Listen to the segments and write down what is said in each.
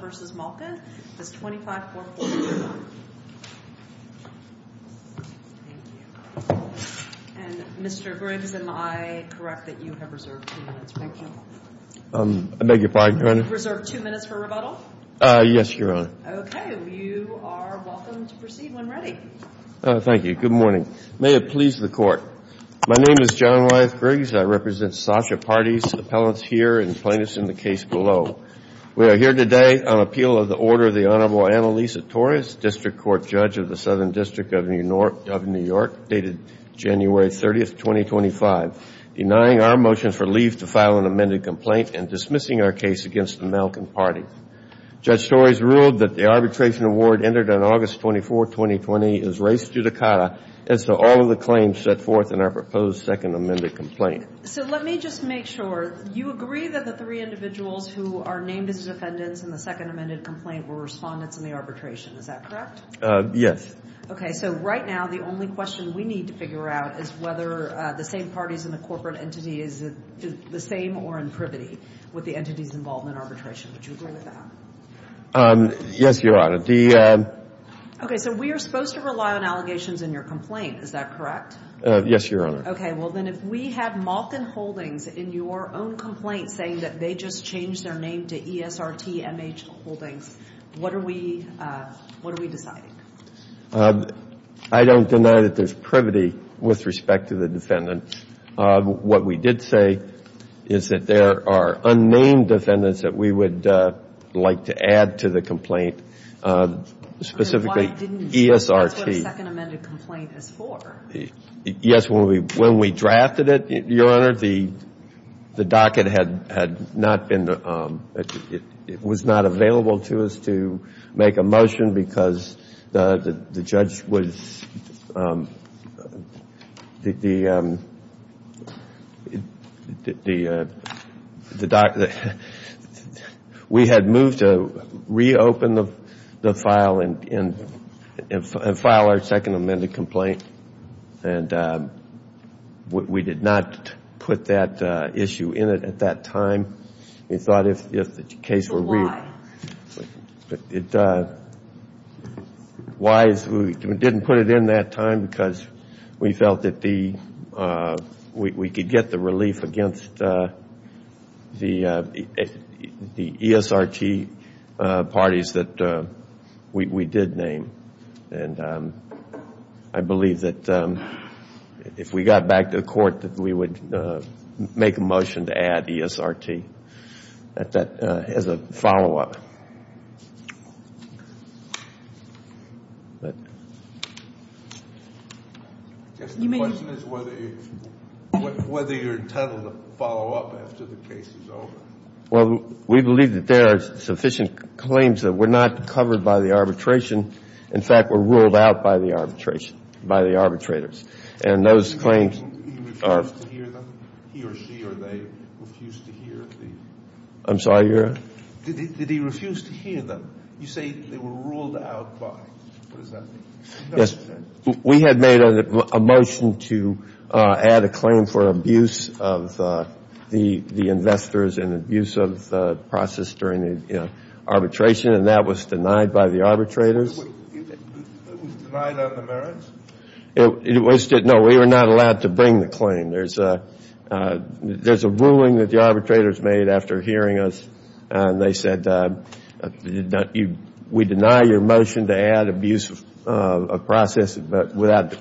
v. Malkin, 25-440-1. Mr. Griggs, am I correct that you have reserved two minutes for rebuttal? Yes, Your Honor. Okay. You are welcome to proceed when ready. Thank you. Good morning. May it please the Court. My name is John Wyeth Griggs. I represent Sasha Pardee's appellants here and plaintiffs in the case below. We are here today on appeal of the order of the Honorable Annalisa Torres, District Court Judge of the Southern District of New York, dated January 30, 2025, denying our motion for leave to file an amended complaint and dismissing our case against the Malkin party. Judge Torres ruled that the arbitration award entered on August 24, 2020 is res judicata as to all of the claims set forth in our proposed second amended complaint. So let me just make sure. You agree that the three individuals who are named as defendants in the second amended complaint were respondents in the arbitration. Is that correct? Yes. Okay. So right now the only question we need to figure out is whether the same parties in the corporate entity is the same or in privity with the entity's involvement in arbitration. Would you agree with that? Yes, Your Honor. Okay. So we are supposed to rely on allegations in your complaint. Is that correct? Yes, Your Honor. Okay. Well, then, if we have Malkin Holdings in your own complaint saying that they just changed their name to ESRTMH Holdings, what are we deciding? I don't deny that there's privity with respect to the defendants. What we did say is that there are unnamed defendants that we would like to add to the complaint, specifically ESRT. Why didn't you say that's what a second amended complaint is for? Yes, when we drafted it, Your Honor, the docket had not been, it was not available to us to make a motion because the judge was, the docket, we had moved to reopen the file and file our second amended complaint. And we did not put that issue in it at that time. We thought if the case were re- Why? Why we didn't put it in that time? Because we felt that we could get the relief against the ESRT parties that we did name. And I believe that if we got back to the court that we would make a motion to add ESRT as a follow-up. The question is whether you're entitled to follow up after the case is over. Well, we believe that there are sufficient claims that were not covered by the arbitration. In fact, were ruled out by the arbitration, by the arbitrators. And those claims are- He refused to hear them? He or she or they refused to hear the- I'm sorry, Your Honor? Did he refuse to hear them? You say they were ruled out by. What does that mean? We had made a motion to add a claim for abuse of the investors and abuse of the process during the arbitration. And that was denied by the arbitrators. It was denied on the merits? No, we were not allowed to bring the claim. There's a ruling that the arbitrators made after hearing us. And they said we deny your motion to add abuse of process, but without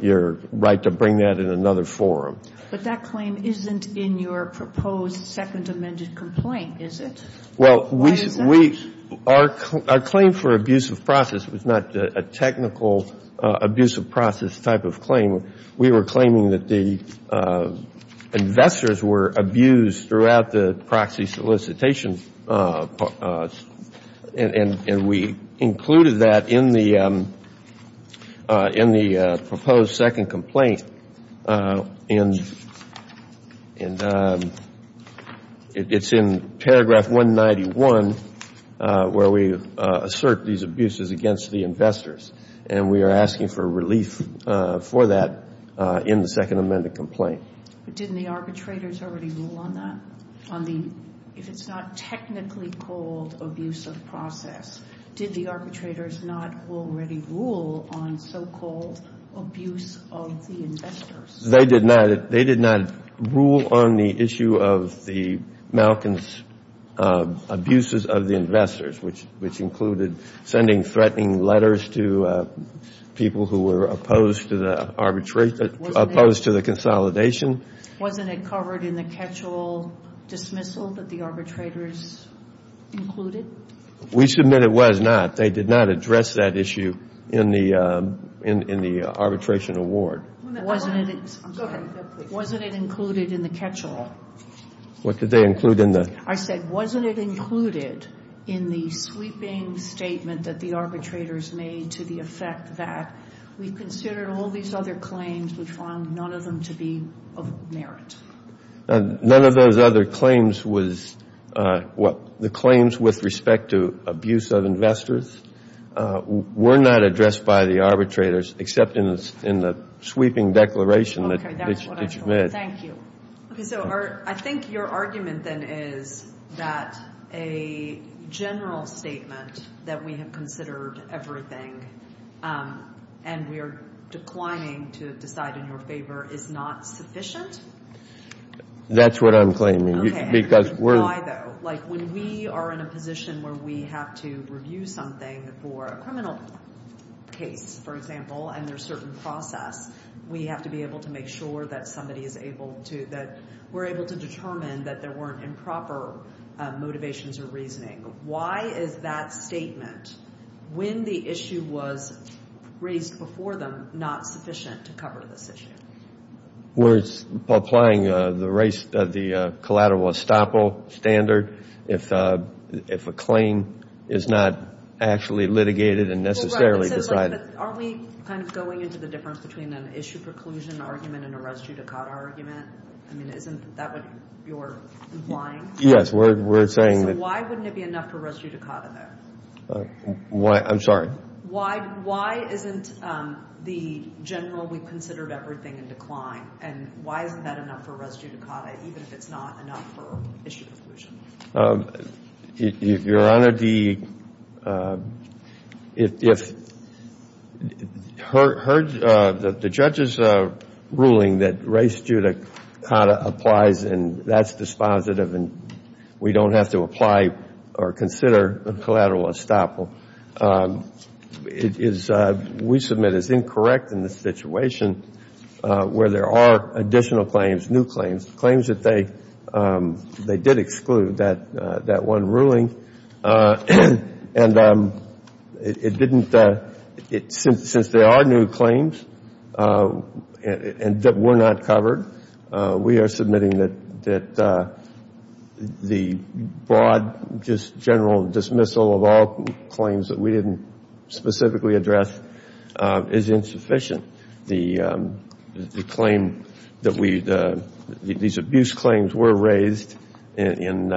your right to bring that in another forum. But that claim isn't in your proposed second amended complaint, is it? Well, we- Our claim for abuse of process was not a technical abuse of process type of claim. We were claiming that the investors were abused throughout the proxy solicitation. And we included that in the proposed second complaint. And it's in paragraph 191 where we assert these abuses against the investors. And we are asking for relief for that in the second amended complaint. But didn't the arbitrators already rule on that? If it's not technically called abuse of process, did the arbitrators not already rule on so-called abuse of the investors? They did not. They did not rule on the issue of the Malkins abuses of the investors, which included sending threatening letters to people who were opposed to the consolidation. Wasn't it covered in the catch-all dismissal that the arbitrators included? We submit it was not. They did not address that issue in the arbitration award. Wasn't it included in the catch-all? What did they include in the- I said, wasn't it included in the sweeping statement that the arbitrators made to the effect that we considered all these other claims, we found none of them to be of merit? None of those other claims was-the claims with respect to abuse of investors were not addressed by the arbitrators except in the sweeping declaration that you made. Okay, that's what I thought. Thank you. Okay, so I think your argument then is that a general statement that we have considered everything and we are declining to decide in your favor is not sufficient? That's what I'm claiming. Why, though? Like, when we are in a position where we have to review something for a criminal case, for example, and there's a certain process, we have to be able to make sure that somebody is able to- that we're able to determine that there weren't improper motivations or reasoning. Why is that statement, when the issue was raised before them, not sufficient to cover this issue? Well, it's applying the collateral estoppel standard. If a claim is not actually litigated and necessarily decided- But aren't we kind of going into the difference between an issue preclusion argument and a res judicata argument? I mean, isn't that what you're implying? Yes, we're saying that- So why wouldn't it be enough for res judicata there? I'm sorry? Why isn't the general we considered everything in decline, and why isn't that enough for res judicata even if it's not enough for issue preclusion? Your Honor, the- If the judge's ruling that res judicata applies and that's dispositive and we don't have to apply or consider a collateral estoppel, it is- we submit as incorrect in the situation where there are additional claims, new claims, claims that they did exclude, that one ruling. And it didn't- since there are new claims that were not covered, we are submitting that the broad just general dismissal of all claims that we didn't specifically address is insufficient. The claim that we- these abuse claims were raised and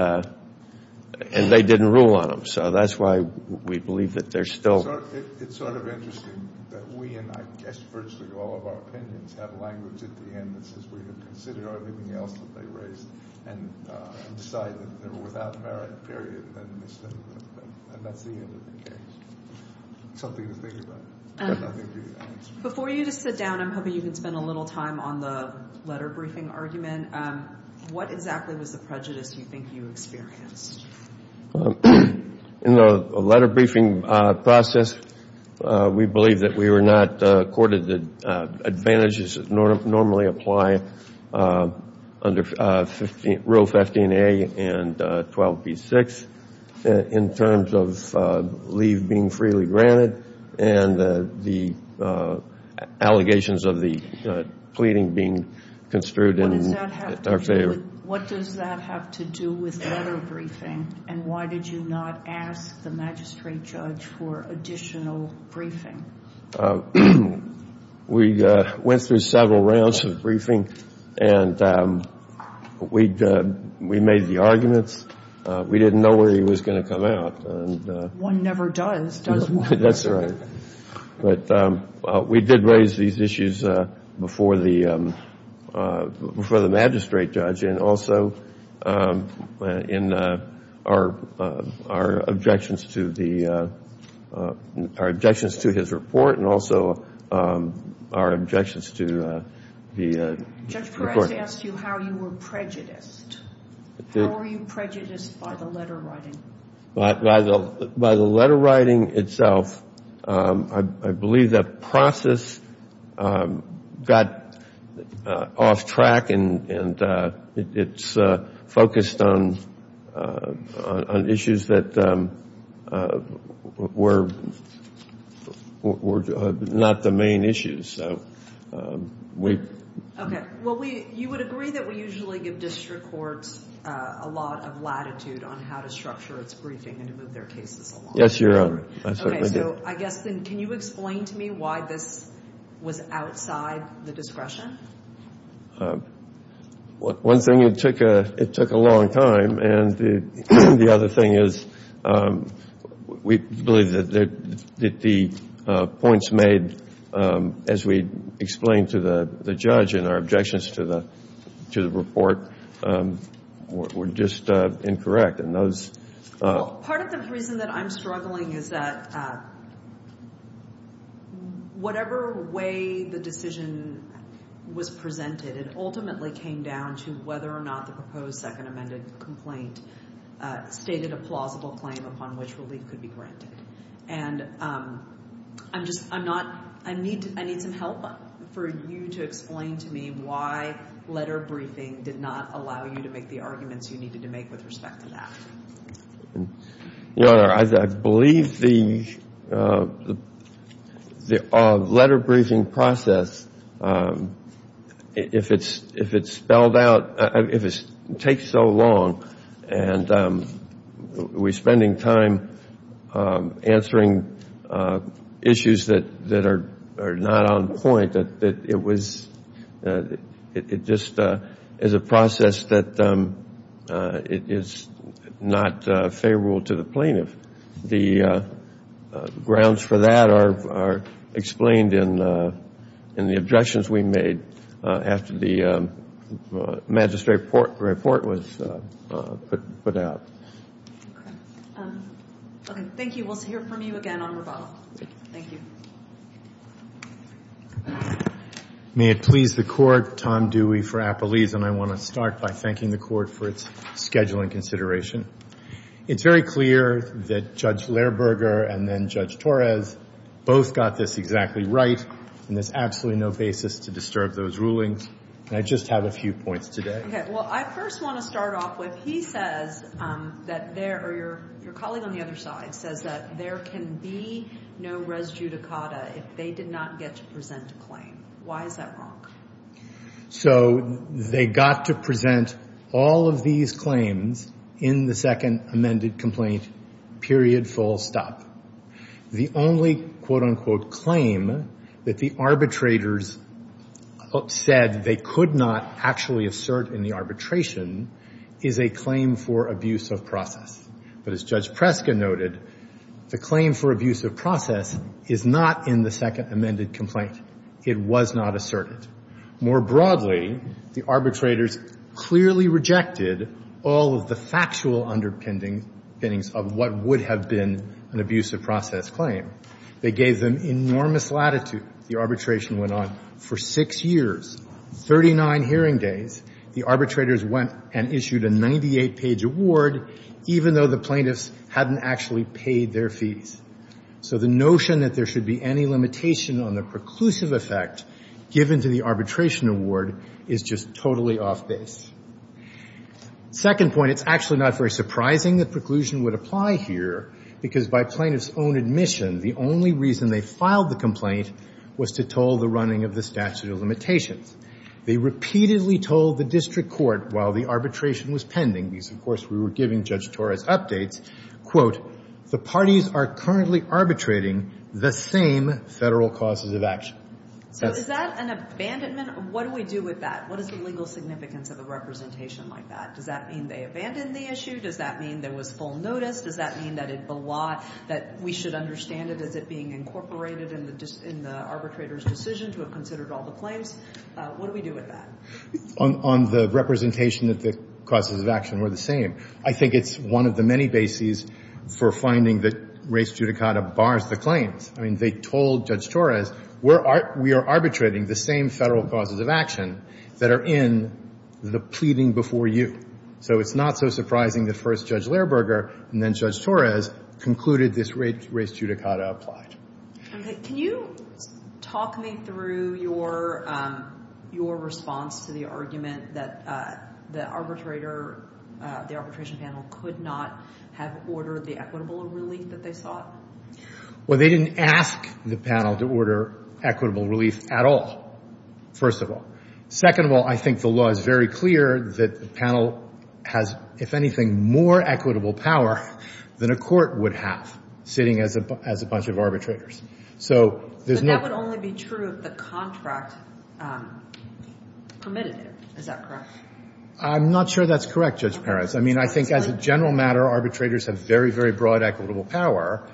they didn't rule on them, so that's why we believe that they're still- It's sort of interesting that we and I guess virtually all of our opinions have language at the end that says we have considered everything else that they raised and decided that they were without merit, period, and that's the end of the case. Something to think about. Before you just sit down, I'm hoping you can spend a little time on the letter briefing argument. What exactly was the prejudice you think you experienced? In the letter briefing process, we believe that we were not accorded the advantages that normally apply under Rule 15a and 12b-6 in terms of leave being freely granted and the allegations of the pleading being construed in our favor. What does that have to do with letter briefing, and why did you not ask the magistrate judge for additional briefing? We went through several rounds of briefing and we made the arguments. We didn't know where he was going to come out. One never does, does one? That's right, but we did raise these issues before the magistrate judge and also in our objections to his report and also our objections to the report. Judge Perez asked you how you were prejudiced. How were you prejudiced by the letter writing? By the letter writing itself, I believe the process got off track and it's focused on issues that were not the main issues. You would agree that we usually give district courts a lot of latitude on how to structure its briefing and to move their cases along. Yes, you're right. Can you explain to me why this was outside the discretion? One thing, it took a long time, and the other thing is we believe that the points made, as we explained to the judge in our objections to the report, were just incorrect. Part of the reason that I'm struggling is that whatever way the decision was presented, it ultimately came down to whether or not the proposed second amended complaint stated a plausible claim upon which relief could be granted. I need some help for you to explain to me why letter briefing did not allow you to make the arguments you needed to make with respect to that. Your Honor, I believe the letter briefing process, if it's spelled out, if it takes so long and we're spending time answering issues that are not on point, it just is a process that is not favorable to the plaintiff. The grounds for that are explained in the objections we made after the magistrate report was put out. Okay, thank you. We'll hear from you again on rebuttal. Thank you. May it please the Court, Tom Dewey for Appelese, and I want to start by thanking the Court for its scheduling consideration. It's very clear that Judge Lehrberger and then Judge Torres both got this exactly right, and there's absolutely no basis to disturb those rulings. I just have a few points today. Okay, well, I first want to start off with, he says that there, or your colleague on the other side says that there can be no res judicata if they did not get to present a claim. Why is that wrong? So they got to present all of these claims in the second amended complaint, period, full stop. The only quote-unquote claim that the arbitrators said they could not actually assert in the arbitration is a claim for abuse of process. But as Judge Preska noted, the claim for abuse of process is not in the second amended complaint. It was not asserted. More broadly, the arbitrators clearly rejected all of the factual underpinnings of what would have been an abuse of process claim. They gave them enormous latitude. The arbitration went on for six years, 39 hearing days. The arbitrators went and issued a 98-page award, even though the plaintiffs hadn't actually paid their fees. So the notion that there should be any limitation on the preclusive effect given to the arbitration award is just totally off base. Second point, it's actually not very surprising that preclusion would apply here, because by plaintiffs' own admission, the only reason they filed the complaint was to toll the running of the statute of limitations. They repeatedly told the district court while the arbitration was pending, because, of course, we were giving Judge Torres updates, quote, the parties are currently arbitrating the same federal causes of action. So is that an abandonment? What do we do with that? What is the legal significance of a representation like that? Does that mean they abandoned the issue? Does that mean there was full notice? Does that mean that we should understand it as it being incorporated in the arbitrator's decision to have considered all the claims? What do we do with that? On the representation that the causes of action were the same, I think it's one of the many bases for finding that race judicata bars the claims. I mean, they told Judge Torres, we are arbitrating the same federal causes of action that are in the pleading before you. So it's not so surprising that first Judge Lehrberger and then Judge Torres concluded this race judicata applied. Can you talk me through your response to the argument that the arbitrator, the arbitration panel could not have ordered the equitable relief that they sought? Well, they didn't ask the panel to order equitable relief at all, first of all. Second of all, I think the law is very clear that the panel has, if anything, more equitable power than a court would have sitting as a bunch of arbitrators. But that would only be true if the contract permitted it. Is that correct? I'm not sure that's correct, Judge Perez. I mean, I think as a general matter, arbitrators have very, very broad equitable power,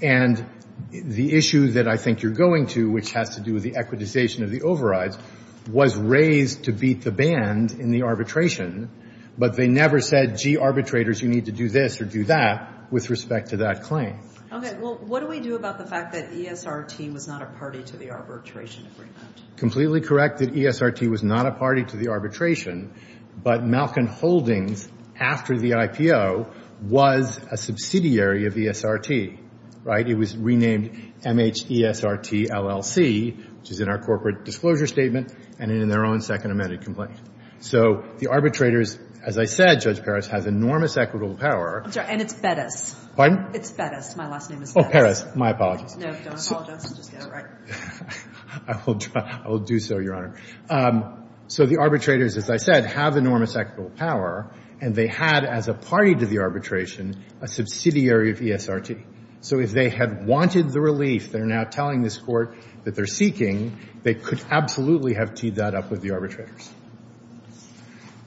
and the issue that I think you're going to, which has to do with the equitization of the overrides, was raised to beat the band in the arbitration, but they never said, gee, arbitrators, you need to do this or do that with respect to that claim. Okay. Well, what do we do about the fact that ESRT was not a party to the arbitration agreement? Completely correct that ESRT was not a party to the arbitration, but Malkin Holdings, after the IPO, was a subsidiary of ESRT, right? It was renamed M-H-E-S-R-T-L-L-C, which is in our corporate disclosure statement and in their own second amended complaint. So the arbitrators, as I said, Judge Perez, have enormous equitable power. I'm sorry. And it's Bettis. Pardon? It's Bettis. My last name is Bettis. Oh, Perez. My apologies. No, don't apologize. Just get it right. I will do so, Your Honor. So the arbitrators, as I said, have enormous equitable power, and they had as a party to the arbitration a subsidiary of ESRT. So if they had wanted the relief they're now telling this Court that they're seeking, they could absolutely have teed that up with the arbitrators.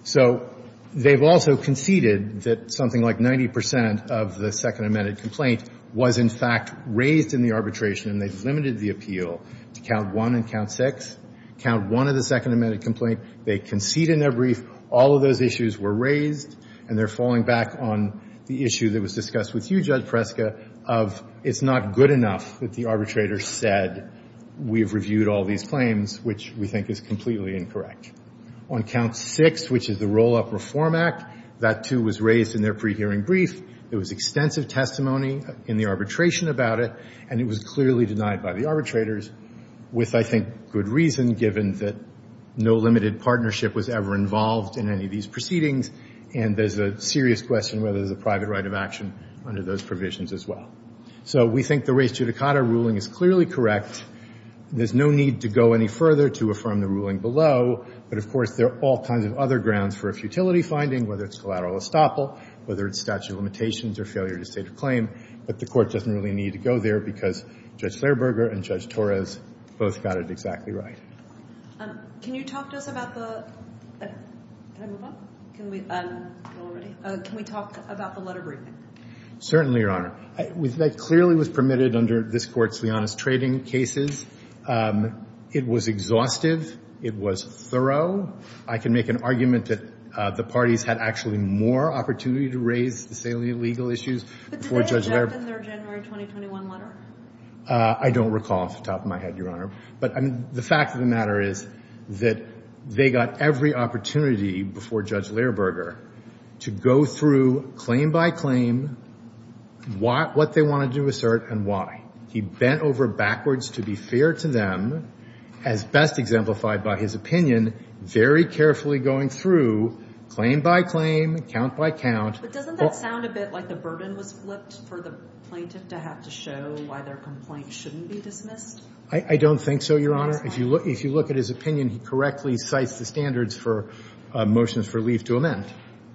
So they've also conceded that something like 90% of the second amended complaint was in fact raised in the arbitration, and they've limited the appeal to count one and count six. Count one of the second amended complaint, they concede in their brief, all of those issues were raised, and they're falling back on the issue that was discussed with you, Judge Preska, of it's not good enough that the arbitrator said we've reviewed all these claims, which we think is completely incorrect. On count six, which is the Roll-Up Reform Act, that, too, was raised in their pre-hearing brief. There was extensive testimony in the arbitration about it, and it was clearly denied by the arbitrators with, I think, good reason, given that no limited partnership was ever involved in any of these proceedings, and there's a serious question whether there's a private right of action under those provisions as well. So we think the race judicata ruling is clearly correct. There's no need to go any further to affirm the ruling below, but, of course, there are all kinds of other grounds for a futility finding, whether it's collateral estoppel, whether it's statute of limitations, or failure to state a claim. But the Court doesn't really need to go there because Judge Slayerberger and Judge Torres both got it exactly right. Can you talk to us about the... Can I move on? Can we... Go already. Can we talk about the letter briefing? Certainly, Your Honor. That clearly was permitted under this Court's Leonis trading cases. It was exhaustive. It was thorough. I can make an argument that the parties had actually more opportunity to raise the salient legal issues before Judge Laird... But did they object in their January 2021 letter? I don't recall off the top of my head, Your Honor. But the fact of the matter is that they got every opportunity before Judge Slayerberger to go through, claim by claim, what they wanted to assert and why. He bent over backwards to be fair to them, as best exemplified by his opinion, very carefully going through, claim by claim, count by count... But doesn't that sound a bit like the burden was flipped for the plaintiff to have to show why their complaint shouldn't be dismissed? I don't think so, Your Honor. If you look at his opinion, he correctly cites the standards for motions for leave to amend.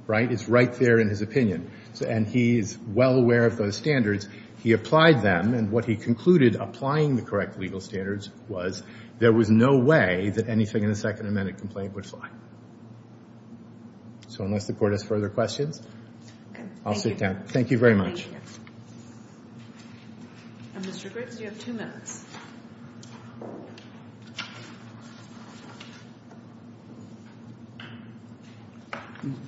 Right? It's right there in his opinion. And he's well aware of those standards. He applied them, and what he concluded applying the correct legal standards was there was no way that anything in the Second Amendment complaint would fly. So unless the Court has further questions, I'll sit down. Thank you. Thank you very much. And, Mr. Griggs, you have two minutes.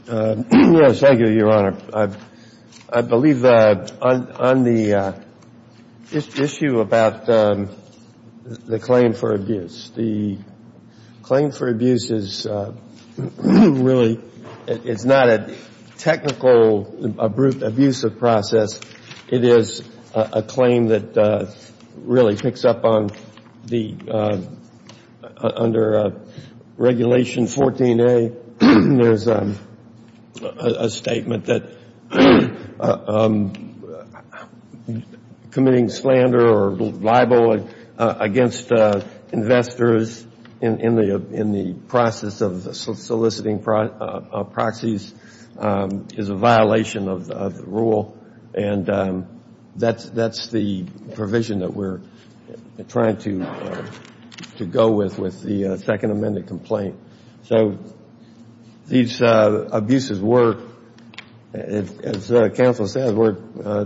Yes, thank you, Your Honor. I believe on the issue about the claim for abuse, the claim for abuse is really it's not a technical abuse of process. It is a claim that really picks up on the, under Regulation 14A, there's a statement that committing slander or libel against investors in the process of soliciting proxies is a violation of the rule, and that's the provision that we're trying to go with with the Second Amendment complaint. So these abuses were, as counsel said, were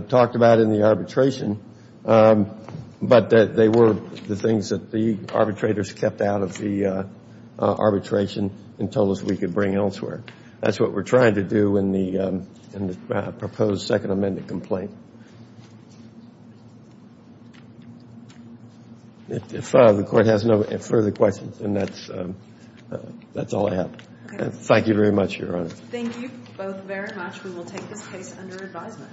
talked about in the arbitration, but they were the things that the arbitrators kept out of the arbitration and told us we could bring elsewhere. That's what we're trying to do in the proposed Second Amendment complaint. If the Court has no further questions, then that's all I have. Thank you very much, Your Honor. Thank you both very much. We will take this case under advisement.